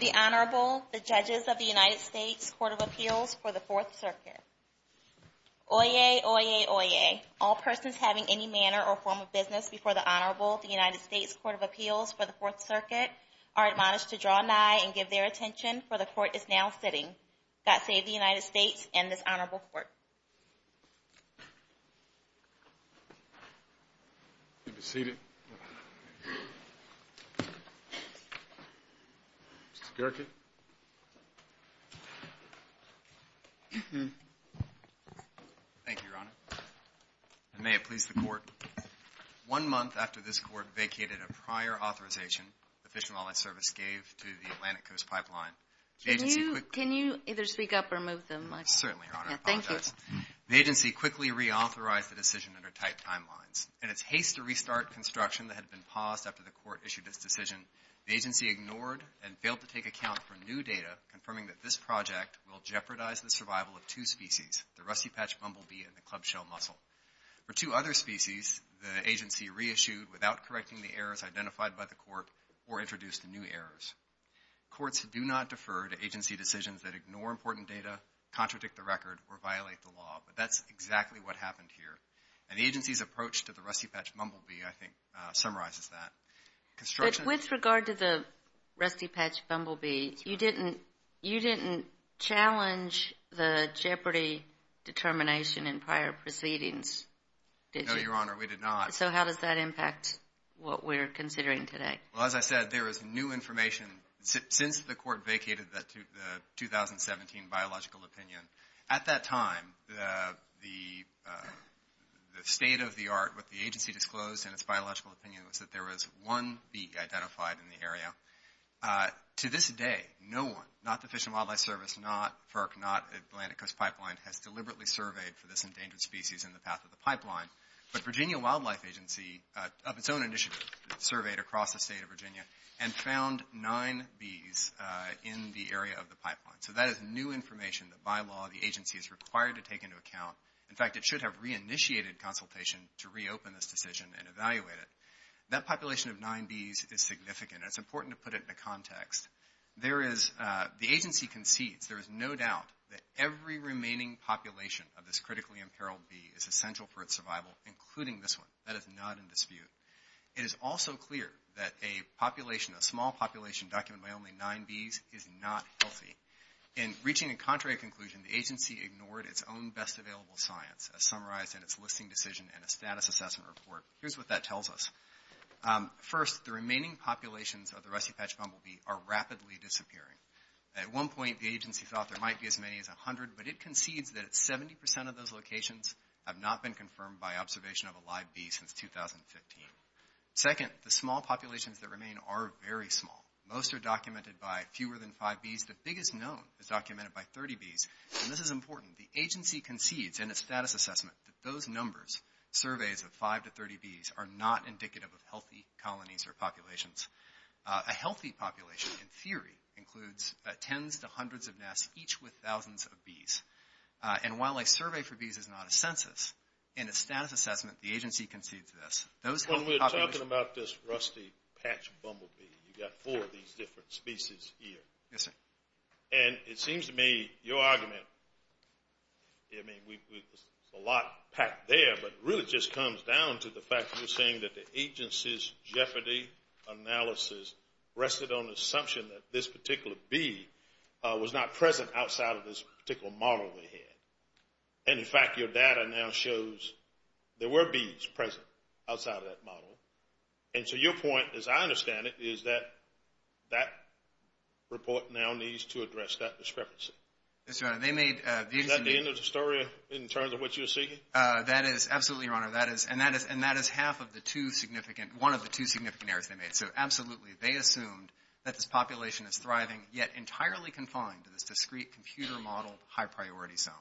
The Honorable, the Judges of the United States Court of Appeals for the 4th Circuit. Oyez! Oyez! Oyez! All persons having any manner or form of business before the Honorable of the United States Court of Appeals for the 4th Circuit are admonished to draw nigh and give their attention, for the Court is now sitting. God save the United States and this Honorable Court. You may be seated. Mr. Gerken. Thank you, Your Honor. May it please the Court. One month after this Court vacated a prior authorization the Fish and Wildlife Service gave to the Atlantic Coast Pipeline, Can you either speak up or move the mic? Certainly, Your Honor. Thank you. The agency quickly reauthorized the decision under tight timelines. In its haste to restart construction that had been paused after the Court issued its decision, the agency ignored and failed to take account for new data confirming that this project will jeopardize the survival of two species, the rusty-patched bumblebee and the club-shell mussel. For two other species, the agency reissued without correcting the errors identified by the Court or introduced new errors. Courts do not defer to agency decisions that ignore important data, contradict the record, or violate the law, but that's exactly what happened here. And the agency's approach to the rusty-patched bumblebee, I think, summarizes that. With regard to the rusty-patched bumblebee, you didn't challenge the jeopardy determination in prior proceedings, did you? No, Your Honor, we did not. So how does that impact what we're considering today? Well, as I said, there is new information. Since the Court vacated the 2017 biological opinion, at that time, the state-of-the-art, what the agency disclosed in its biological opinion, was that there was one bee identified in the area. To this day, no one, not the Fish and Wildlife Service, not FERC, not Atlantic Coast Pipeline, has deliberately surveyed for this endangered species in the path of the pipeline. But Virginia Wildlife Agency, of its own initiative, surveyed across the state of Virginia and found nine bees in the area of the pipeline. So that is new information that, by law, the agency is required to take into account. In fact, it should have reinitiated consultation to reopen this decision and evaluate it. That population of nine bees is significant, and it's important to put it into context. The agency concedes, there is no doubt, that every remaining population of this critically imperiled bee is essential for its survival, including this one. That is not in dispute. It is also clear that a population, a small population documented by only nine bees, is not healthy. In reaching a contrary conclusion, the agency ignored its own best available science. As summarized in its listing decision and a status assessment report, here's what that tells us. First, the remaining populations of the rusty patch bumblebee are rapidly disappearing. At one point, the agency thought there might be as many as 100, but it concedes that 70% of those locations have not been confirmed by observation of a live bee since 2015. Second, the small populations that remain are very small. Most are documented by fewer than five bees. The biggest known is documented by 30 bees, and this is important. The agency concedes in its status assessment that those numbers, surveys of five to 30 bees, are not indicative of healthy colonies or populations. A healthy population, in theory, includes tens to hundreds of nests, each with thousands of bees. And while a survey for bees is not a census, in a status assessment, the agency concedes this. When we're talking about this rusty patch bumblebee, you've got four of these different species here. Yes, sir. And it seems to me your argument, I mean, there's a lot packed there, but it really just comes down to the fact that you're saying that the agency's jeopardy analysis rested on the assumption that this particular bee was not present outside of this particular model they had. And, in fact, your data now shows there were bees present outside of that model. And so your point, as I understand it, is that that report now needs to address that discrepancy. Yes, sir. Is that the end of the story in terms of what you're seeking? That is, absolutely, your honor. And that is half of the two significant, one of the two significant errors they made. So, absolutely, they assumed that this population is thriving, yet entirely confined to this discrete computer-modeled high-priority zone.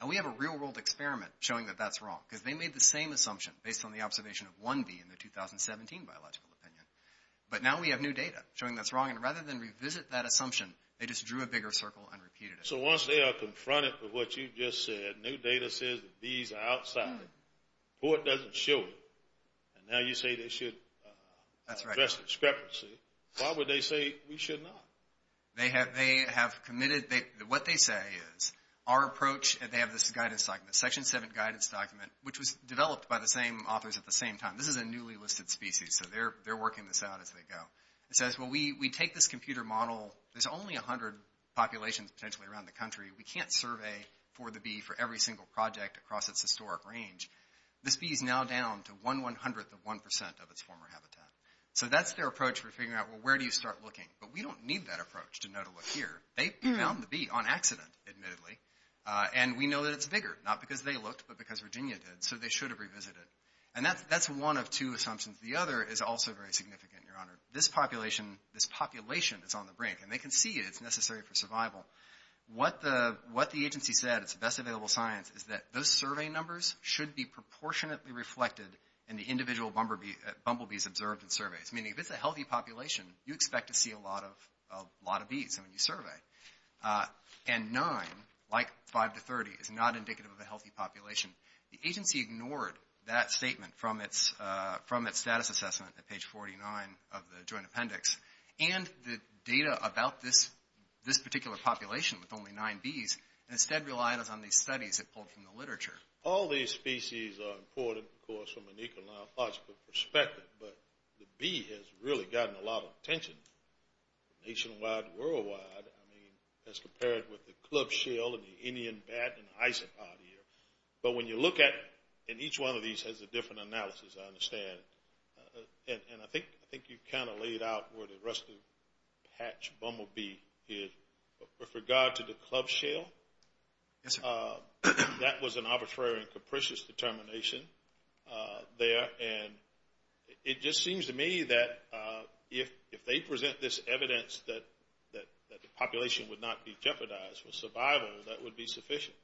And we have a real-world experiment showing that that's wrong, because they made the same assumption based on the observation of one bee in the 2017 biological opinion. But now we have new data showing that's wrong. And rather than revisit that assumption, they just drew a bigger circle and repeated it. So once they are confronted with what you just said, new data says that bees are outside, but it doesn't show it. And now you say they should address the discrepancy. Why would they say we should not? They have committed, what they say is, our approach, and they have this guidance document, Section 7 guidance document, which was developed by the same authors at the same time. This is a newly listed species, so they're working this out as they go. It says, well, we take this computer model. There's only 100 populations potentially around the country. We can't survey for the bee for every single project across its historic range. This bee is now down to 1,100th of 1% of its former habitat. So that's their approach for figuring out, well, where do you start looking? But we don't need that approach to know to look here. They found the bee on accident, admittedly, and we know that it's bigger, not because they looked, but because Virginia did, so they should have revisited. And that's one of two assumptions. The other is also very significant, Your Honor. This population is on the brink, and they can see it. It's necessary for survival. What the agency said, it's the best available science, is that those survey numbers should be proportionately reflected in the individual bumblebees observed in surveys. Meaning if it's a healthy population, you expect to see a lot of bees when you survey. And nine, like five to 30, is not indicative of a healthy population. The agency ignored that statement from its status assessment at page 49 of the joint appendix. And the data about this particular population with only nine bees instead relied on these studies it pulled from the literature. All these species are important, of course, from an ecological perspective. But the bee has really gotten a lot of attention nationwide and worldwide. I mean, as compared with the club shell and the Indian bat and the isopod here. But when you look at it, and each one of these has a different analysis, I understand. And I think you kind of laid out where the rest of the patch bumblebee hid. With regard to the club shell, that was an arbitrary and capricious determination there. And it just seems to me that if they present this evidence that the population would not be jeopardized for survival, that would be sufficient.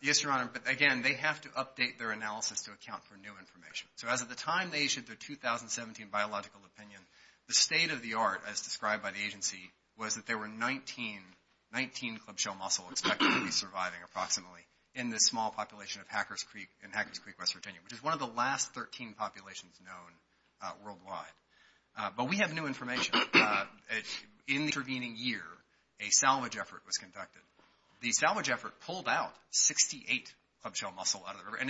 Yes, Your Honor. But again, they have to update their analysis to account for new information. So as of the time they issued their 2017 biological opinion, the state of the art, as described by the agency, was that there were 19 club shell mussel expected to be surviving approximately in this small population in Hackers Creek, West Virginia, which is one of the last 13 populations known worldwide. But we have new information. In the intervening year, a salvage effort was conducted. And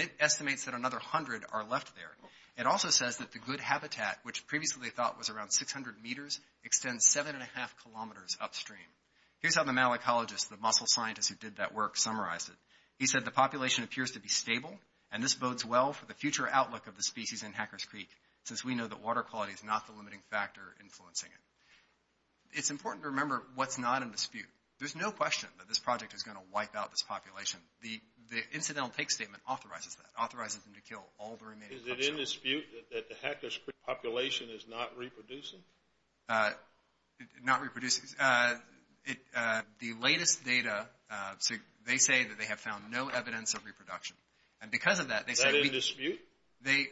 it estimates that another 100 are left there. It also says that the good habitat, which previously they thought was around 600 meters, extends 7.5 kilometers upstream. Here's how the malacologist, the mussel scientist who did that work, summarized it. He said the population appears to be stable, and this bodes well for the future outlook of the species in Hackers Creek, since we know that water quality is not the limiting factor influencing it. It's important to remember what's not in dispute. There's no question that this project is going to wipe out this population. The incidental take statement authorizes that, authorizes them to kill all the remaining club shells. Is it in dispute that the Hackers Creek population is not reproducing? Not reproducing. The latest data, they say that they have found no evidence of reproduction. And because of that, they say that we – Is that in dispute?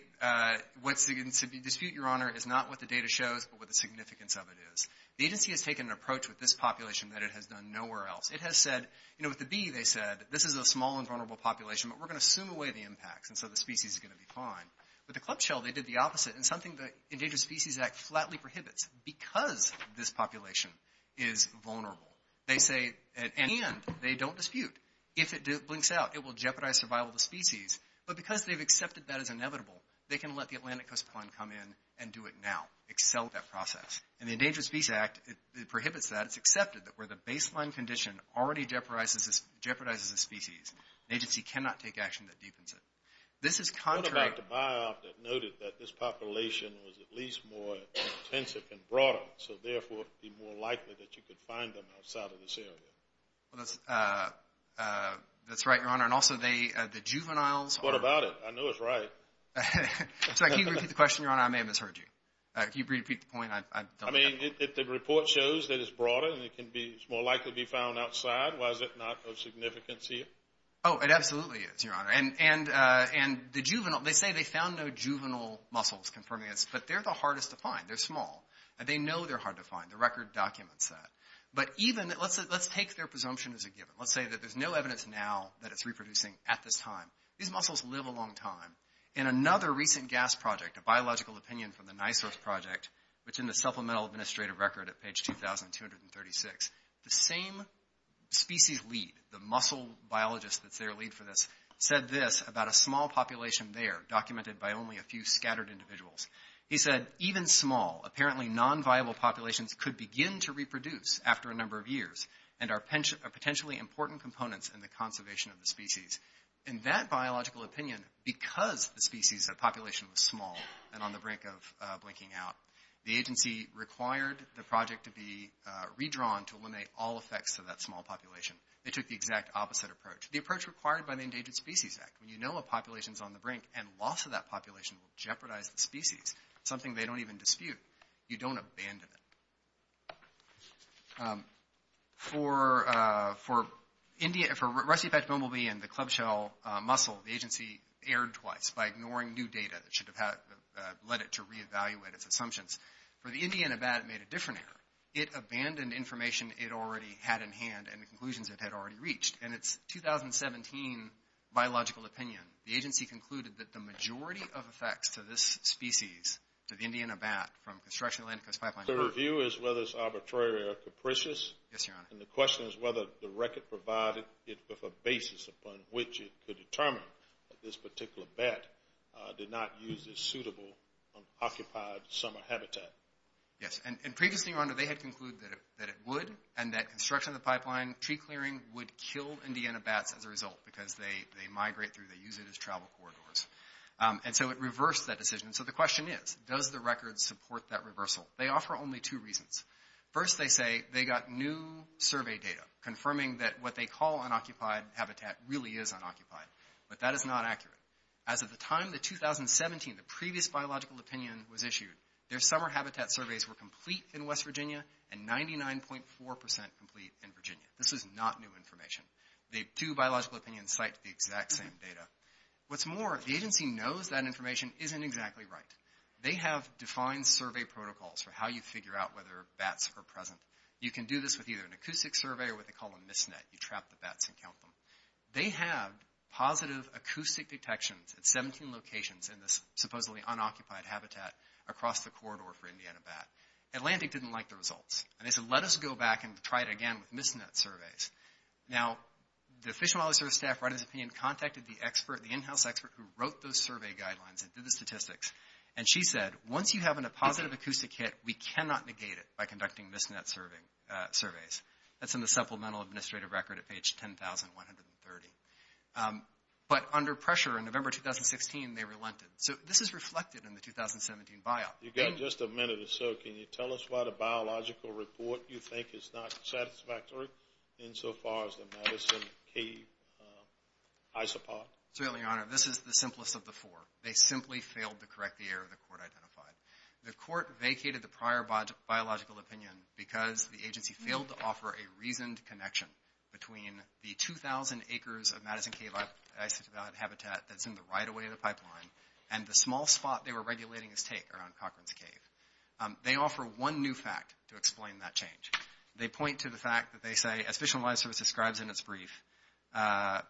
What's in dispute, Your Honor, is not what the data shows, but what the significance of it is. The agency has taken an approach with this population that it has done nowhere else. It has said – with the bee, they said, this is a small and vulnerable population, but we're going to assume away the impacts, and so the species is going to be fine. With the club shell, they did the opposite, and something the Endangered Species Act flatly prohibits because this population is vulnerable. They say – and they don't dispute. If it blinks out, it will jeopardize survival of the species. But because they've accepted that as inevitable, they can let the Atlantic Coast Plan come in and do it now, excel that process. And the Endangered Species Act, it prohibits that. And it's accepted that where the baseline condition already jeopardizes the species, an agency cannot take action that deepens it. This is contrary – What about the biop that noted that this population was at least more intensive and broader, so therefore it would be more likely that you could find them outside of this area? That's right, Your Honor. And also, the juveniles – What about it? I know it's right. So I can't repeat the question, Your Honor. I may have misheard you. Can you repeat the point? I mean, if the report shows that it's broader and it's more likely to be found outside, why is it not of significance here? Oh, it absolutely is, Your Honor. And the juvenile – they say they found no juvenile mussels confirming this, but they're the hardest to find. They're small. They know they're hard to find. The record documents that. But even – let's take their presumption as a given. Let's say that there's no evidence now that it's reproducing at this time. These mussels live a long time. In another recent GAS project, a biological opinion from the NISOS project, which is in the Supplemental Administrative Record at page 2,236, the same species lead, the mussel biologist that's their lead for this, said this about a small population there documented by only a few scattered individuals. He said, even small, apparently non-viable populations could begin to reproduce after a number of years and are potentially important components in the conservation of the species. In that biological opinion, because the species population was small and on the brink of blinking out, the agency required the project to be redrawn to eliminate all effects of that small population. They took the exact opposite approach, the approach required by the Endangered Species Act. When you know a population is on the brink and loss of that population will jeopardize the species, something they don't even dispute. You don't abandon it. For Rusty-backed bumblebee and the club-shell mussel, the agency erred twice by ignoring new data that should have led it to reevaluate its assumptions. For the Indian abat, it made a different error. It abandoned information it already had in hand and the conclusions it had already reached. In its 2017 biological opinion, the agency concluded that the majority of effects to this species, to the Indian abat from construction of the Atlantic Coast Pipeline... So the review is whether it's arbitrary or capricious? Yes, Your Honor. And the question is whether the record provided a basis upon which it could determine that this particular bat did not use its suitable occupied summer habitat. Yes, and previously, Your Honor, they had concluded that it would and that construction of the pipeline tree clearing would kill Indiana bats as a result because they migrate through, they use it as travel corridors. And so it reversed that decision. So the question is, does the record support that reversal? They offer only two reasons. First, they say they got new survey data confirming that what they call unoccupied habitat really is unoccupied, but that is not accurate. As of the time, the 2017, the previous biological opinion was issued, their summer habitat surveys were complete in West Virginia and 99.4% complete in Virginia. This is not new information. The two biological opinions cite the exact same data. What's more, the agency knows that information isn't exactly right. They have defined survey protocols for how you figure out whether bats are present. You can do this with either an acoustic survey or what they call a misnet. You trap the bats and count them. They have positive acoustic detections at 17 locations in this supposedly unoccupied habitat across the corridor for Indiana bat. Atlantic didn't like the results, and they said, let us go back and try it again with misnet surveys. Now, the Fish and Wildlife Service staff writing this opinion contacted the expert, who wrote those survey guidelines and did the statistics, and she said, once you have a positive acoustic hit, we cannot negate it by conducting misnet surveys. That's in the supplemental administrative record at page 10,130. But under pressure in November 2016, they relented. So this is reflected in the 2017 biop. You've got just a minute or so. Can you tell us why the biological report you think is not satisfactory insofar as the Madison Cave isopod? Absolutely, Your Honor. This is the simplest of the four. They simply failed to correct the error the court identified. The court vacated the prior biological opinion because the agency failed to offer a reasoned connection between the 2,000 acres of Madison Cave isopod habitat that's in the right-of-way of the pipeline and the small spot they were regulating its take around Cochran's Cave. They offer one new fact to explain that change. They point to the fact that they say, as Fish and Wildlife Service describes in its brief, an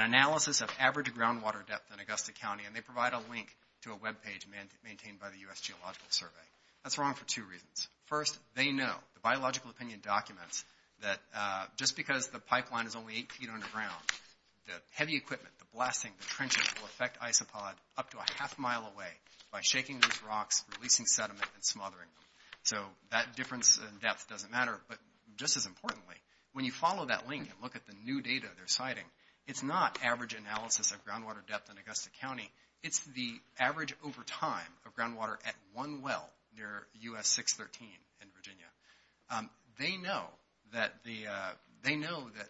analysis of average groundwater depth in Augusta County, and they provide a link to a web page maintained by the U.S. Geological Survey. That's wrong for two reasons. First, they know, the biological opinion documents, that just because the pipeline is only eight feet underground, the heavy equipment, the blasting, the trenches will affect isopod up to a half mile away by shaking those rocks, releasing sediment, and smothering them. So that difference in depth doesn't matter. But just as importantly, when you follow that link and look at the new data they're citing, it's not average analysis of groundwater depth in Augusta County. It's the average over time of groundwater at one well near U.S. 613 in Virginia. They know that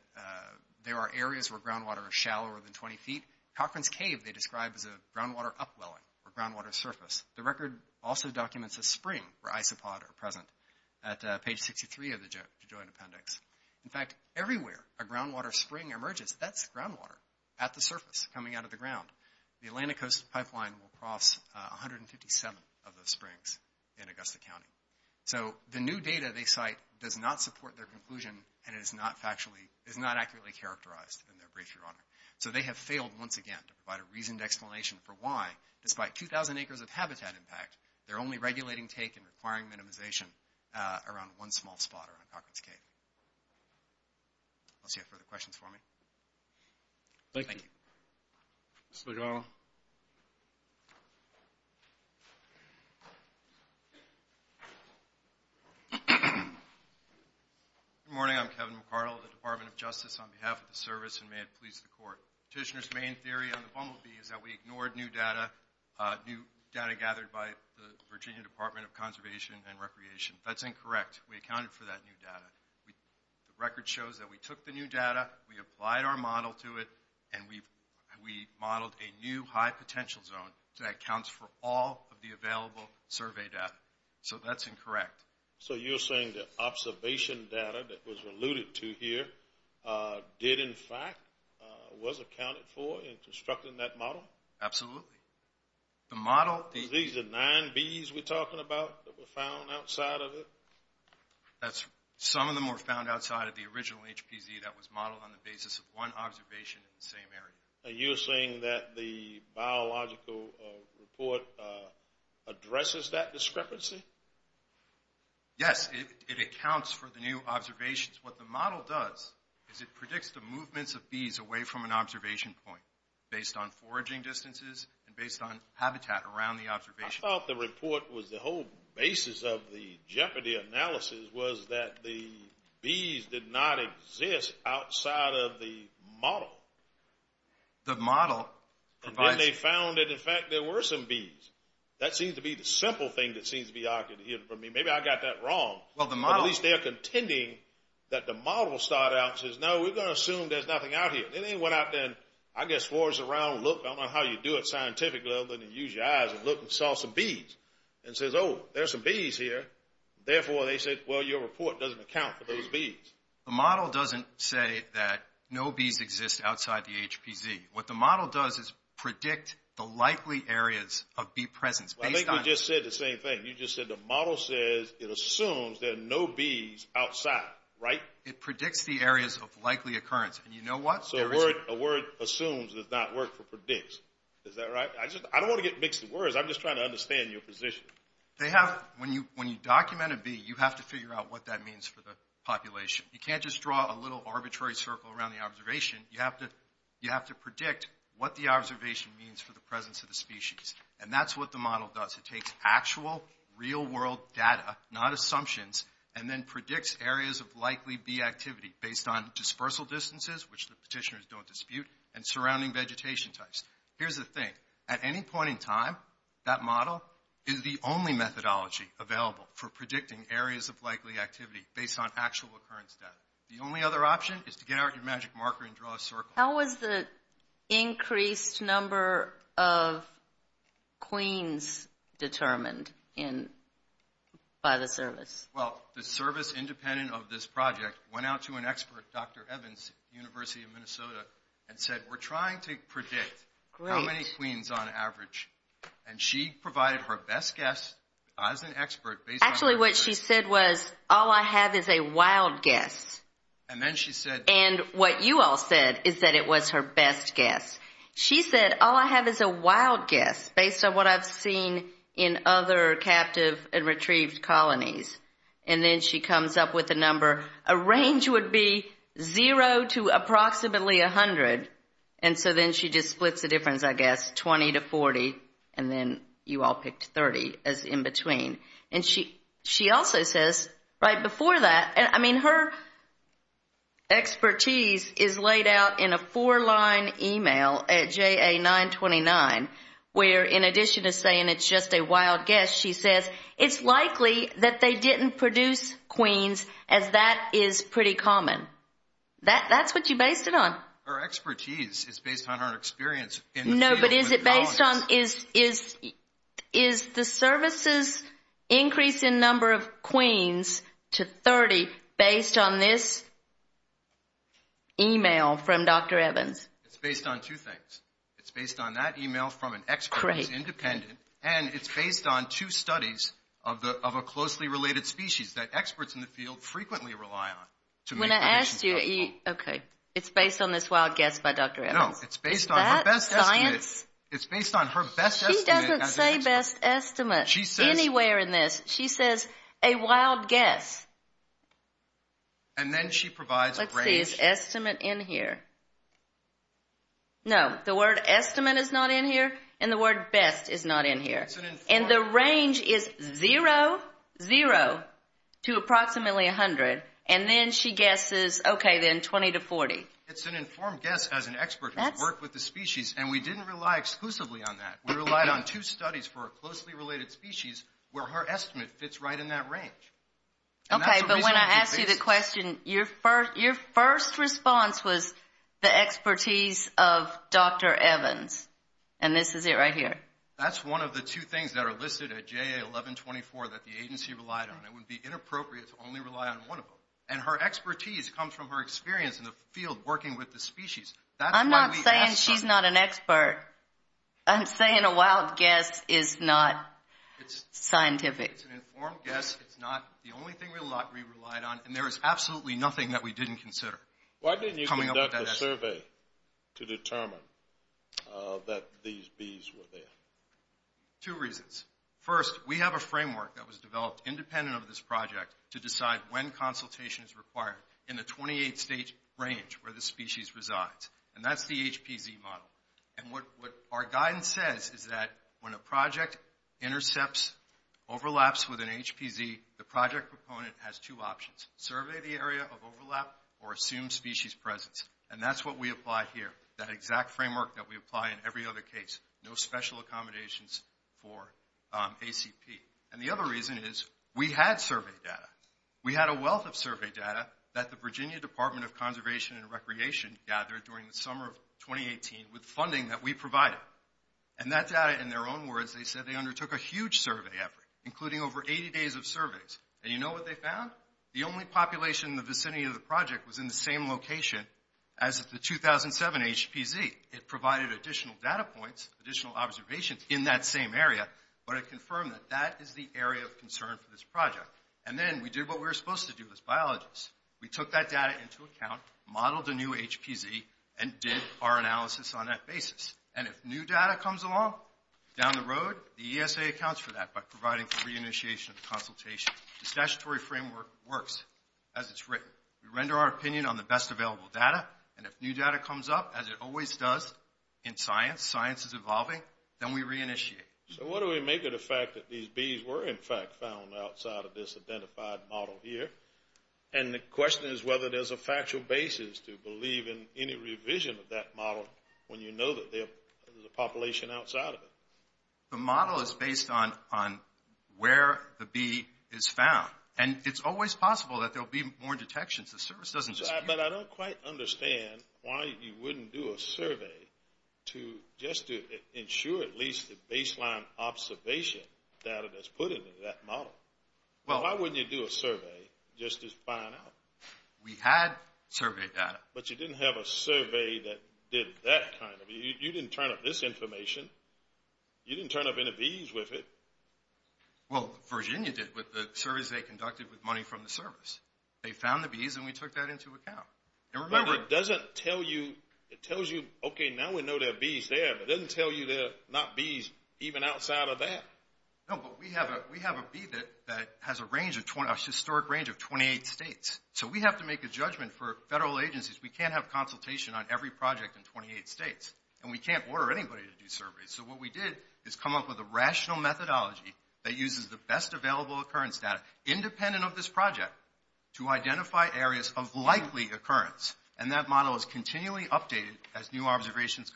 there are areas where groundwater is shallower than 20 feet. Cochran's Cave they describe as a groundwater upwelling or groundwater surface. The record also documents a spring where isopod are present. At page 63 of the joint appendix. In fact, everywhere a groundwater spring emerges, that's groundwater at the surface, coming out of the ground. The Atlanta Coast Pipeline will cross 157 of those springs in Augusta County. So the new data they cite does not support their conclusion, and it is not accurately characterized in their brief, Your Honor. So they have failed once again to provide a reasoned explanation for why, despite 2,000 acres of habitat impact, they're only regulating take and requiring minimization around one small spot, around Cochran's Cave. Unless you have further questions for me. Thank you. Mr. McArdle. Good morning. I'm Kevin McArdle of the Department of Justice on behalf of the service, and may it please the Court. Petitioner's main theory on the bumblebee is that we ignored new data, gathered by the Virginia Department of Conservation and Recreation. That's incorrect. We accounted for that new data. The record shows that we took the new data, we applied our model to it, and we modeled a new high-potential zone that accounts for all of the available survey data. So that's incorrect. So you're saying the observation data that was alluded to here did, in fact, was accounted for in constructing that model? Absolutely. These are nine bees we're talking about that were found outside of it? Some of them were found outside of the original HPZ that was modeled on the basis of one observation in the same area. You're saying that the biological report addresses that discrepancy? Yes. It accounts for the new observations. What the model does is it predicts the movements of bees away from an observation point based on foraging distances and based on habitat around the observation point. I thought the report was the whole basis of the Jeopardy analysis was that the bees did not exist outside of the model. The model provides— And then they found that, in fact, there were some bees. That seems to be the simple thing that seems to be argued here from me. Maybe I got that wrong. At least they are contending that the model started out and says, no, we're going to assume there's nothing out here. It didn't go out there and, I guess, forage around and look. I don't know how you do it scientifically other than use your eyes and look and saw some bees. It says, oh, there's some bees here. Therefore, they said, well, your report doesn't account for those bees. The model doesn't say that no bees exist outside the HPZ. What the model does is predict the likely areas of bee presence based on— I think you just said the same thing. You just said the model says it assumes there are no bees outside, right? It predicts the areas of likely occurrence. And you know what? So a word assumes does not work for predict. Is that right? I don't want to get mixed with words. I'm just trying to understand your position. When you document a bee, you have to figure out what that means for the population. You can't just draw a little arbitrary circle around the observation. You have to predict what the observation means for the presence of the species. And that's what the model does. It takes actual, real-world data, not assumptions, and then predicts areas of likely bee activity based on dispersal distances, which the petitioners don't dispute, and surrounding vegetation types. Here's the thing. At any point in time, that model is the only methodology available for predicting areas of likely activity based on actual occurrence data. The only other option is to get out your magic marker and draw a circle. How is the increased number of queens determined by the service? Well, the service independent of this project went out to an expert, Dr. Evans, University of Minnesota, and said, we're trying to predict how many queens on average. And she provided her best guess as an expert. Actually, what she said was, all I have is a wild guess. And then she said. And what you all said is that it was her best guess. She said, all I have is a wild guess based on what I've seen in other captive and retrieved colonies. And then she comes up with a number. A range would be zero to approximately 100. And so then she just splits the difference, I guess, 20 to 40, and then you all picked 30 as in between. And she also says, right before that, I mean, her expertise is laid out in a four-line email at JA929, where in addition to saying it's just a wild guess, she says, it's likely that they didn't produce queens as that is pretty common. That's what you based it on. Her expertise is based on her experience. No, but is it based on is the services increase in number of queens to 30 based on this email from Dr. Evans? It's based on two things. It's based on that email from an expert who's independent, and it's based on two studies of a closely related species that experts in the field frequently rely on. When I asked you, okay, it's based on this wild guess by Dr. Evans. No, it's based on her best estimate. It's based on her best estimate as an expert. She doesn't say best estimate anywhere in this. She says a wild guess. And then she provides a range. Let's see, it's estimate in here. No, the word estimate is not in here, and the word best is not in here. And the range is 0, 0 to approximately 100, and then she guesses, okay, then 20 to 40. It's an informed guess as an expert who's worked with the species, and we didn't rely exclusively on that. We relied on two studies for a closely related species where her estimate fits right in that range. Okay, but when I asked you the question, your first response was the expertise of Dr. Evans, and this is it right here. That's one of the two things that are listed at JA 1124 that the agency relied on. It would be inappropriate to only rely on one of them, and her expertise comes from her experience in the field working with the species. I'm not saying she's not an expert. I'm saying a wild guess is not scientific. It's an informed guess. It's not the only thing we relied on, and there is absolutely nothing that we didn't consider coming up with that estimate. Why didn't you conduct a survey to determine that these bees were there? Two reasons. First, we have a framework that was developed independent of this project to decide when consultation is required in the 28-state range where the species resides, and that's the HPZ model. And what our guidance says is that when a project intercepts, overlaps with an HPZ, the project proponent has two options, survey the area of overlap or assume species presence, and that's what we apply here, that exact framework that we apply in every other case, no special accommodations for ACP. And the other reason is we had survey data. We had a wealth of survey data that the Virginia Department of Conservation and Recreation gathered during the summer of 2018 with funding that we provided, and that data, in their own words, they said they undertook a huge survey effort, including over 80 days of surveys. And you know what they found? The only population in the vicinity of the project was in the same location as the 2007 HPZ. It provided additional data points, additional observations in that same area, but it confirmed that that is the area of concern for this project. And then we did what we were supposed to do as biologists. We took that data into account, modeled a new HPZ, and did our analysis on that basis. And if new data comes along down the road, the ESA accounts for that by providing for reinitiation and consultation. The statutory framework works as it's written. We render our opinion on the best available data, and if new data comes up, as it always does in science, science is evolving, then we reinitiate. So what do we make of the fact that these bees were, in fact, found outside of this identified model here? And the question is whether there's a factual basis to believe in any revision of that model when you know that there's a population outside of it. The model is based on where the bee is found. And it's always possible that there will be more detections. The service doesn't just keep coming. But I don't quite understand why you wouldn't do a survey just to ensure at least the baseline observation data that's put into that model. Why wouldn't you do a survey just to find out? We had survey data. But you didn't have a survey that did that kind of thing. You didn't turn up this information. You didn't turn up any bees with it. Well, Virginia did with the surveys they conducted with money from the service. They found the bees, and we took that into account. Remember, it doesn't tell you. It tells you, okay, now we know there are bees there. It doesn't tell you there are not bees even outside of that. No, but we have a bee that has a range, a historic range of 28 states. So we have to make a judgment for federal agencies. We can't have consultation on every project in 28 states, and we can't order anybody to do surveys. So what we did is come up with a rational methodology that uses the best available occurrence data, independent of this project, to identify areas of likely occurrence. And that model is continually updated as new observations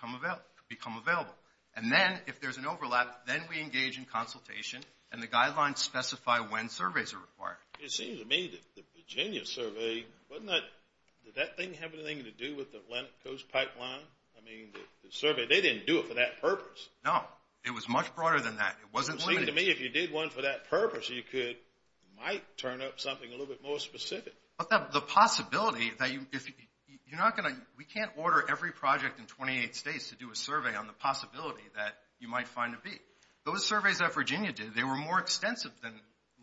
become available. And then, if there's an overlap, then we engage in consultation, and the guidelines specify when surveys are required. It seems to me that the Virginia survey, wasn't that, did that thing have anything to do with the Atlantic Coast Pipeline? I mean, the survey, they didn't do it for that purpose. No, it was much broader than that. It wasn't limited. It seems to me if you did one for that purpose, you might turn up something a little bit more specific. But the possibility that you, you're not going to, we can't order every project in 28 states to do a survey on the possibility that you might find a bee. Those surveys that Virginia did, they were more extensive than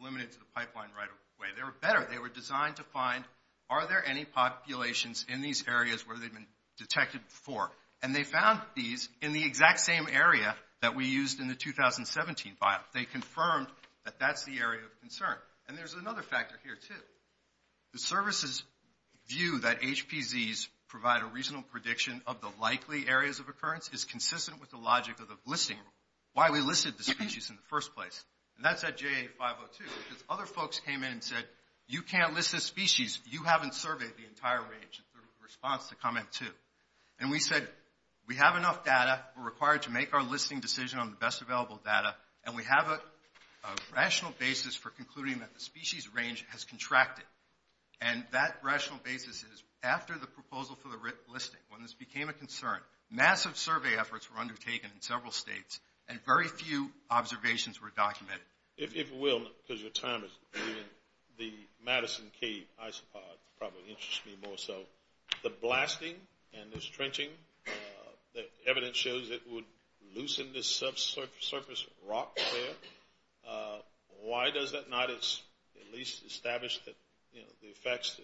limited to the pipeline right-of-way. They were better. They were designed to find, are there any populations in these areas where they've been detected before? And they found bees in the exact same area that we used in the 2017 file. They confirmed that that's the area of concern. And there's another factor here, too. The services view that HPZs provide a reasonable prediction of the likely areas of occurrence is consistent with the logic of the listing rule, why we listed the species in the first place. And that's at JA502 because other folks came in and said, you can't list this species. You haven't surveyed the entire range. The response to comment two. And we said, we have enough data. We're required to make our listing decision on the best available data. And we have a rational basis for concluding that the species range has contracted. And that rational basis is after the proposal for the listing, when this became a concern, massive survey efforts were undertaken in several states, and very few observations were documented. If you will, because your time is leading, the Madison Cave isopods probably interest me more so. The blasting and this trenching, the evidence shows it would loosen this subsurface rock there. Why does that not at least establish that the effects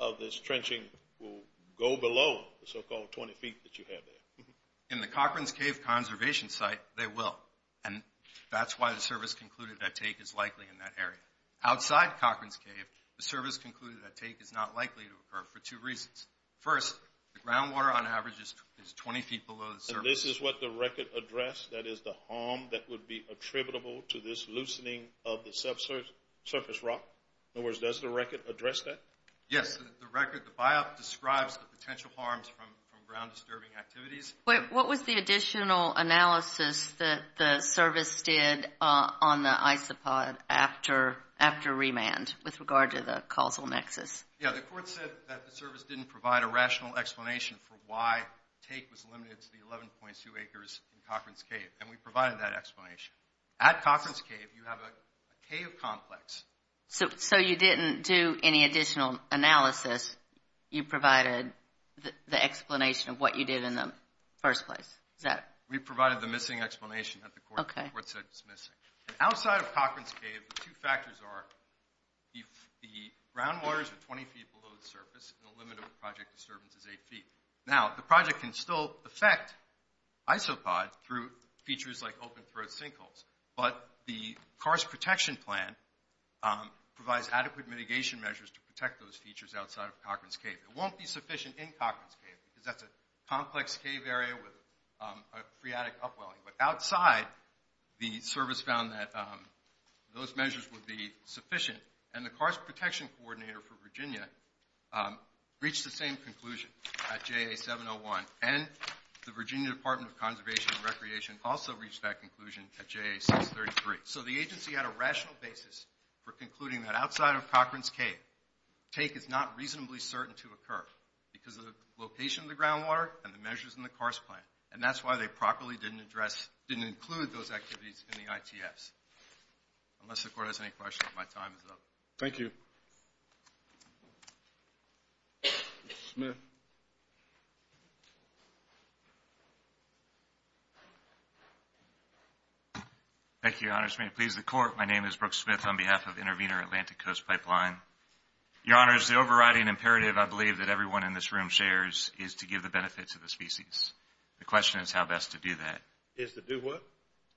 of this trenching will go below the so-called 20 feet that you have there? In the Cochran's Cave conservation site, they will. And that's why the service concluded that take is likely in that area. Outside Cochran's Cave, the service concluded that take is not likely to occur for two reasons. First, the groundwater on average is 20 feet below the surface. And this is what the record addressed? That is the harm that would be attributable to this loosening of the subsurface rock? In other words, does the record address that? Yes, the record, the biop describes the potential harms from ground disturbing activities. What was the additional analysis that the service did on the isopod after remand with regard to the causal nexus? Yeah, the court said that the service didn't provide a rational explanation for why take was limited to the 11.2 acres in Cochran's Cave. And we provided that explanation. At Cochran's Cave, you have a cave complex. So you didn't do any additional analysis? You provided the explanation of what you did in the first place? We provided the missing explanation that the court said was missing. Outside of Cochran's Cave, the two factors are the groundwater is 20 feet below the surface and the limit of project disturbance is eight feet. Now, the project can still affect isopod through features like open throat sinkholes. But the KARS Protection Plan provides adequate mitigation measures to protect those features outside of Cochran's Cave. It won't be sufficient in Cochran's Cave because that's a complex cave area with a phreatic upwelling. But outside, the service found that those measures would be sufficient. And the KARS Protection Coordinator for Virginia reached the same conclusion at JA701. And the Virginia Department of Conservation and Recreation also reached that conclusion at JA633. So the agency had a rational basis for concluding that outside of Cochran's Cave, take is not reasonably certain to occur because of the location of the groundwater and the measures in the KARS Plan. And that's why they properly didn't include those activities in the ITFs. Unless the court has any questions, my time is up. Thank you. Mr. Smith. Thank you, Your Honors. May it please the court. My name is Brooks Smith on behalf of Intervenor Atlantic Coast Pipeline. Your Honors, the overriding imperative, I believe, that everyone in this room shares is to give the benefit to the species. The question is how best to do that.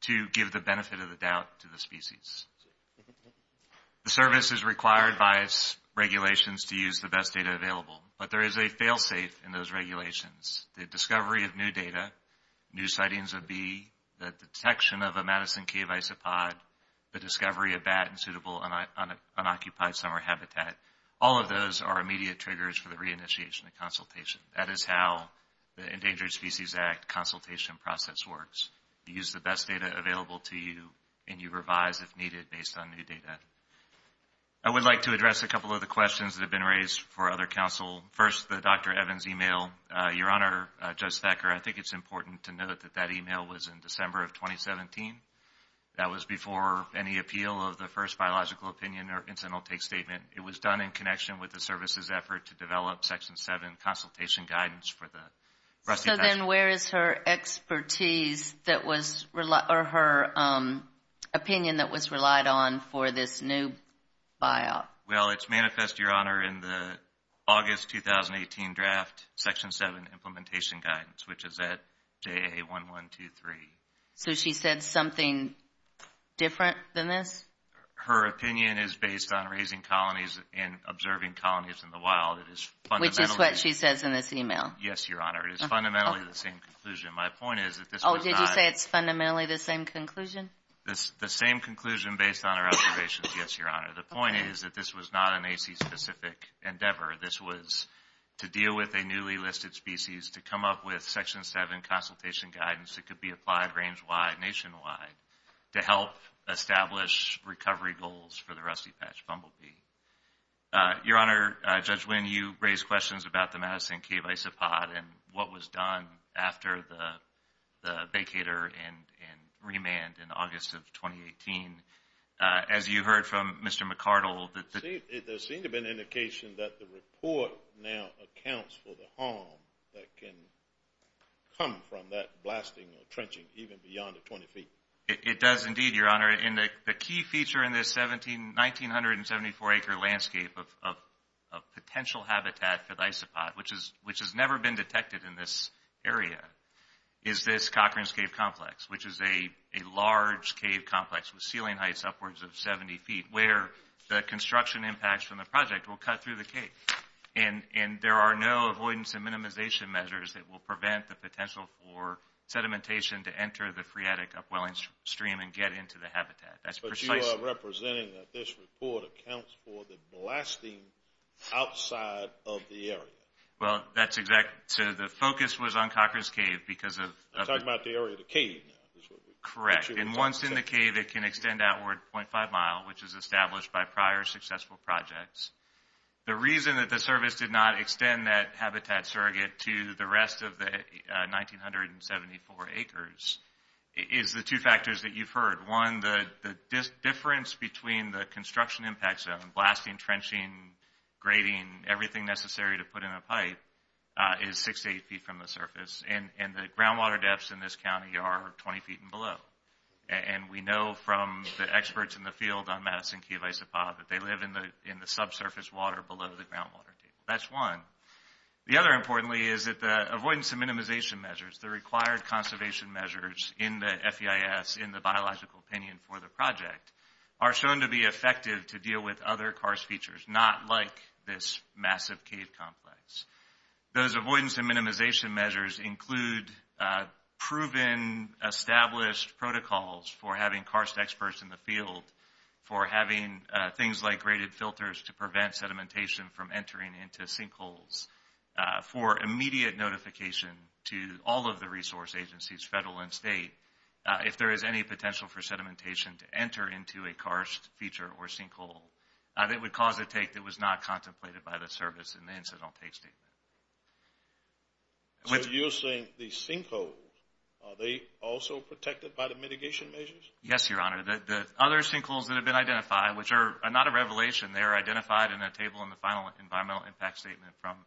To give the benefit of the doubt to the species. The service is required by its regulations to use the best data available. But there is a fail-safe in those regulations. The discovery of new data, new sightings of bee, the detection of a Madison Cave isopod, the discovery of bat and suitable unoccupied summer habitat, all of those are immediate triggers for the reinitiation of consultation. That is how the Endangered Species Act consultation process works. You use the best data available to you, and you revise, if needed, based on new data. I would like to address a couple of the questions that have been raised for other counsel. First, the Dr. Evans email. Your Honor, Judge Thacker, I think it's important to note that that email was in December of 2017. That was before any appeal of the first biological opinion or incidental take statement. It was done in connection with the service's effort to develop Section 7 consultation guidance for the Rusty National Park. So then where is her opinion that was relied on for this new buyout? Well, it's manifest, Your Honor, in the August 2018 draft, Section 7 implementation guidance, which is at JA1123. So she said something different than this? Her opinion is based on raising colonies and observing colonies in the wild. Which is what she says in this email? Yes, Your Honor. It is fundamentally the same conclusion. My point is that this was not – Oh, did you say it's fundamentally the same conclusion? The same conclusion based on our observations, yes, Your Honor. The point is that this was not an AC-specific endeavor. This was to deal with a newly listed species, to come up with Section 7 consultation guidance that could be applied range-wide, nationwide, to help establish recovery goals for the rusty patch bumblebee. Your Honor, Judge Wynn, you raised questions about the Madison Cave Isopod and what was done after the vacator and remand in August of 2018. As you heard from Mr. McArdle, the – There seemed to be an indication that the report now accounts for the harm that can come from that blasting or trenching even beyond the 20 feet. It does indeed, Your Honor. The key feature in this 1,974-acre landscape of potential habitat for the isopod, which has never been detected in this area, is this Cochrane's Cave Complex, which is a large cave complex with ceiling heights upwards of 70 feet, where the construction impacts from the project will cut through the cave. There are no avoidance and minimization measures that will prevent the potential for sedimentation to enter the phreatic upwelling stream and get into the habitat. That's precisely – But you are representing that this report accounts for the blasting outside of the area. Well, that's exactly – so the focus was on Cochrane's Cave because of – I'm talking about the area of the cave now. Correct. And once in the cave, it can extend outward 0.5 mile, which is established by prior successful projects. The reason that the service did not extend that habitat surrogate to the rest of the 1,974 acres is the two factors that you've heard. One, the difference between the construction impact zone, blasting, trenching, grading, everything necessary to put in a pipe, is 6 to 8 feet from the surface, and the groundwater depths in this county are 20 feet and below. And we know from the experts in the field on Madison Cave Isopod that they live in the subsurface water below the groundwater deep. That's one. The other, importantly, is that the avoidance and minimization measures, the required conservation measures in the FEIS, in the biological opinion for the project, are shown to be effective to deal with other karst features, not like this massive cave complex. Those avoidance and minimization measures include proven, established protocols for having karst experts in the field, for having things like graded filters to prevent sedimentation from entering into sinkholes, for immediate notification to all of the resource agencies, federal and state, if there is any potential for sedimentation to enter into a karst feature or sinkhole that would cause a take that was not contemplated by the service in the incidental take statement. So you're saying the sinkholes, are they also protected by the mitigation measures? Yes, Your Honor. The other sinkholes that have been identified, which are not a revelation, they are identified in a table in the final environmental impact statement from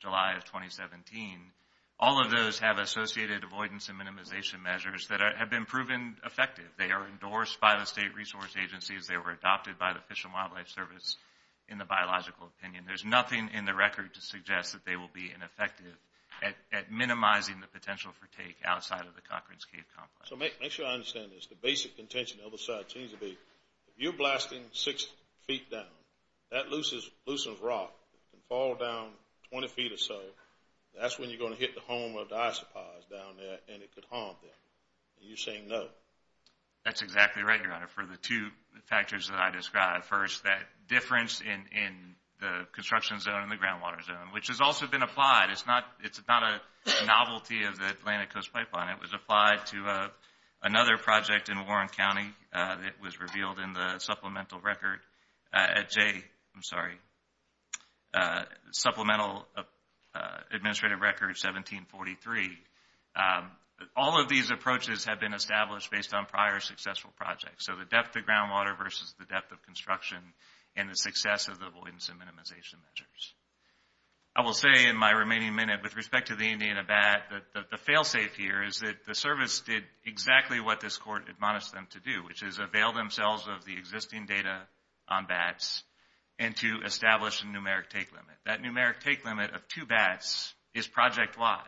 July of 2017. All of those have associated avoidance and minimization measures that have been proven effective. They are endorsed by the state resource agencies. They were adopted by the Fish and Wildlife Service in the biological opinion. There's nothing in the record to suggest that they will be ineffective at minimizing the potential for take outside of the Cochran's Cave complex. So make sure I understand this. The basic intention on the other side seems to be, if you're blasting six feet down, that loosens rock and falls down 20 feet or so, that's when you're going to hit the home of the isopods down there and it could harm them. And you're saying no. First, that difference in the construction zone and the groundwater zone, which has also been applied. It's not a novelty of the Atlantic Coast Pipeline. It was applied to another project in Warren County that was revealed in the supplemental record at Jay. I'm sorry. Supplemental administrative record 1743. All of these approaches have been established based on prior successful projects. So the depth of groundwater versus the depth of construction and the success of the avoidance and minimization measures. I will say in my remaining minute, with respect to the Indiana bat, that the fail-safe here is that the service did exactly what this court admonished them to do, which is avail themselves of the existing data on bats and to establish a numeric take limit. That numeric take limit of two bats is project-wide.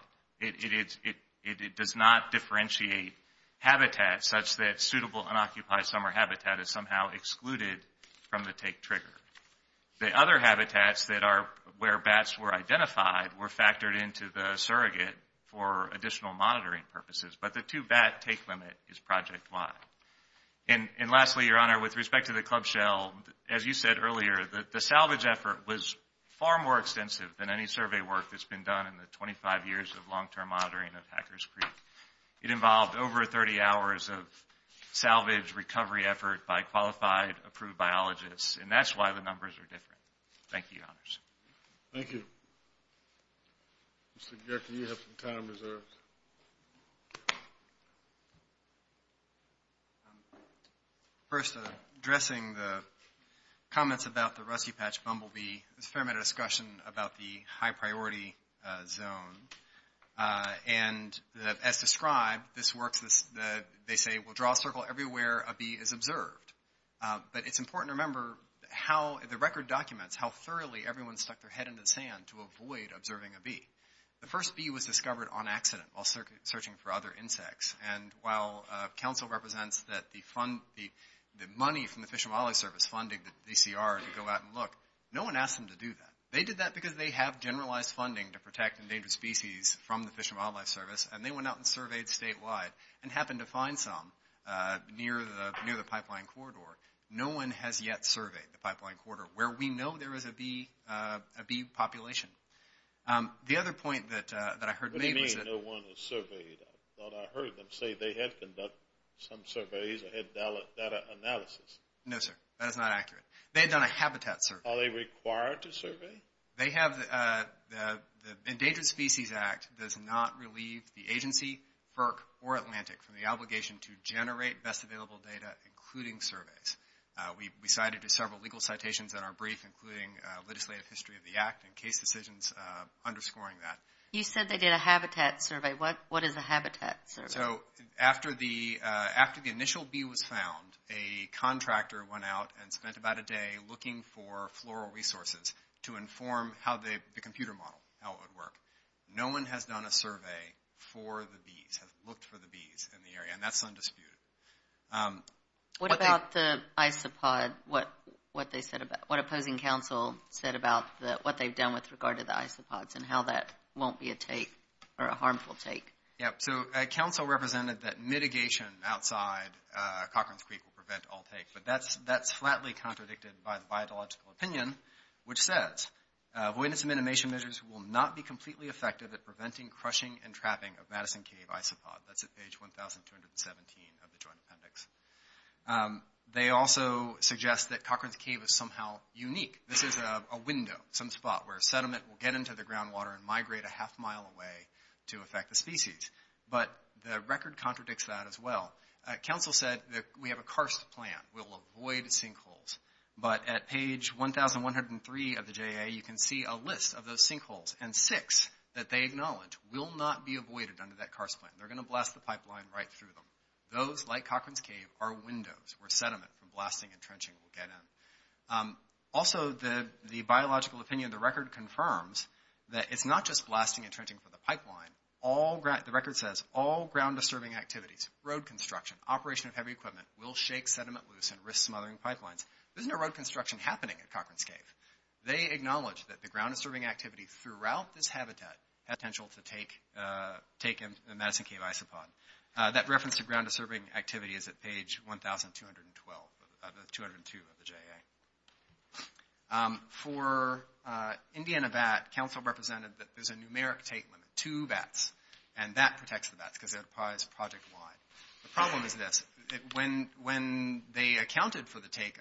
It does not differentiate habitats such that suitable unoccupied summer habitat is somehow excluded from the take trigger. The other habitats that are where bats were identified were factored into the surrogate for additional monitoring purposes. But the two-bat take limit is project-wide. And lastly, Your Honor, with respect to the club shell, as you said earlier, the salvage effort was far more extensive than any survey work that's been done in the 25 years of long-term monitoring of Hacker's Creek. It involved over 30 hours of salvage recovery effort by qualified, approved biologists. And that's why the numbers are different. Thank you, Your Honors. Thank you. Mr. Gehrke, you have some time reserved. Please. First, addressing the comments about the Rusty Patch bumblebee, there's a fair amount of discussion about the high-priority zone. And as described, this works. They say, well, draw a circle everywhere a bee is observed. But it's important to remember how the record documents how thoroughly everyone stuck their head into the sand to avoid observing a bee. The first bee was discovered on accident while searching for other insects. And while counsel represents that the money from the Fish and Wildlife Service funding the DCR to go out and look, no one asked them to do that. They did that because they have generalized funding to protect endangered species from the Fish and Wildlife Service, and they went out and surveyed statewide and happened to find some near the pipeline corridor. No one has yet surveyed the pipeline corridor where we know there is a bee population. The other point that I heard made was that... What do you mean no one has surveyed? I thought I heard them say they had conducted some surveys or had data analysis. No, sir. That is not accurate. They had done a habitat survey. Are they required to survey? The Endangered Species Act does not relieve the agency, FERC, or Atlantic from the obligation to generate best available data, including surveys. We cited several legal citations in our brief, including legislative history of the act and case decisions underscoring that. You said they did a habitat survey. What is a habitat survey? After the initial bee was found, a contractor went out and spent about a day looking for floral resources to inform the computer model, how it would work. No one has done a survey for the bees, has looked for the bees in the area, and that is undisputed. What about the isopod? What opposing counsel said about what they've done with regard to the isopods and how that won't be a take or a harmful take? Counsel represented that mitigation outside Cochran's Creek will prevent all takes, but that's flatly contradicted by the biological opinion, which says, avoidance and minimization measures will not be completely effective at preventing crushing and trapping of Madison Cave isopod. That's at page 1,217 of the Joint Appendix. They also suggest that Cochran's Cave is somehow unique. This is a window, some spot where sediment will get into the groundwater and migrate a half mile away to affect the species. But the record contradicts that as well. Counsel said that we have a karst plan. We'll avoid sinkholes. But at page 1,103 of the JA, you can see a list of those sinkholes, and six that they acknowledge will not be avoided under that karst plan. They're going to blast the pipeline right through them. Those, like Cochran's Cave, are windows where sediment from blasting and trenching will get in. Also, the biological opinion of the record confirms that it's not just blasting and trenching for the pipeline. The record says all ground-disturbing activities, road construction, operation of heavy equipment, will shake sediment loose and risk smothering pipelines. There's no road construction happening at Cochran's Cave. They acknowledge that the ground-disturbing activities throughout this habitat have potential to take in the Madison Cave isopod. That reference to ground-disturbing activities is at page 1,202 of the JA. For India and a bat, counsel represented that there's a numeric take limit, two bats, and that protects the bats because it applies project-wide. The problem is this. When they accounted for the take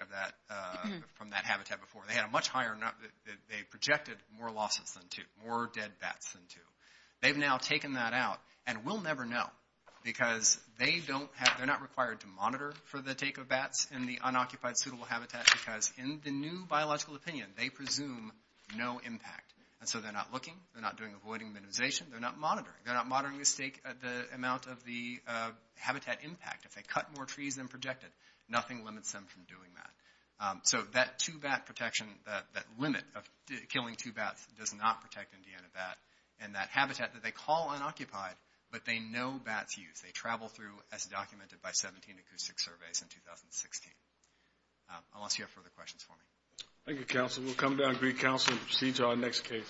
from that habitat before, they projected more losses than two, more dead bats than two. They've now taken that out, and we'll never know because they're not required to monitor for the take of bats in the unoccupied suitable habitat because in the new biological opinion, they presume no impact. And so they're not looking. They're not doing avoiding minimization. They're not monitoring. They're not monitoring the amount of the habitat impact. If they cut more trees than projected, nothing limits them from doing that. So that two-bat protection, that limit of killing two bats, does not protect India and a bat. And that habitat that they call unoccupied, but they know bats use, they travel through as documented by 17 acoustic surveys in 2016. Unless you have further questions for me. Thank you, counsel. We'll come down and greet counsel and proceed to our next case. Thank you.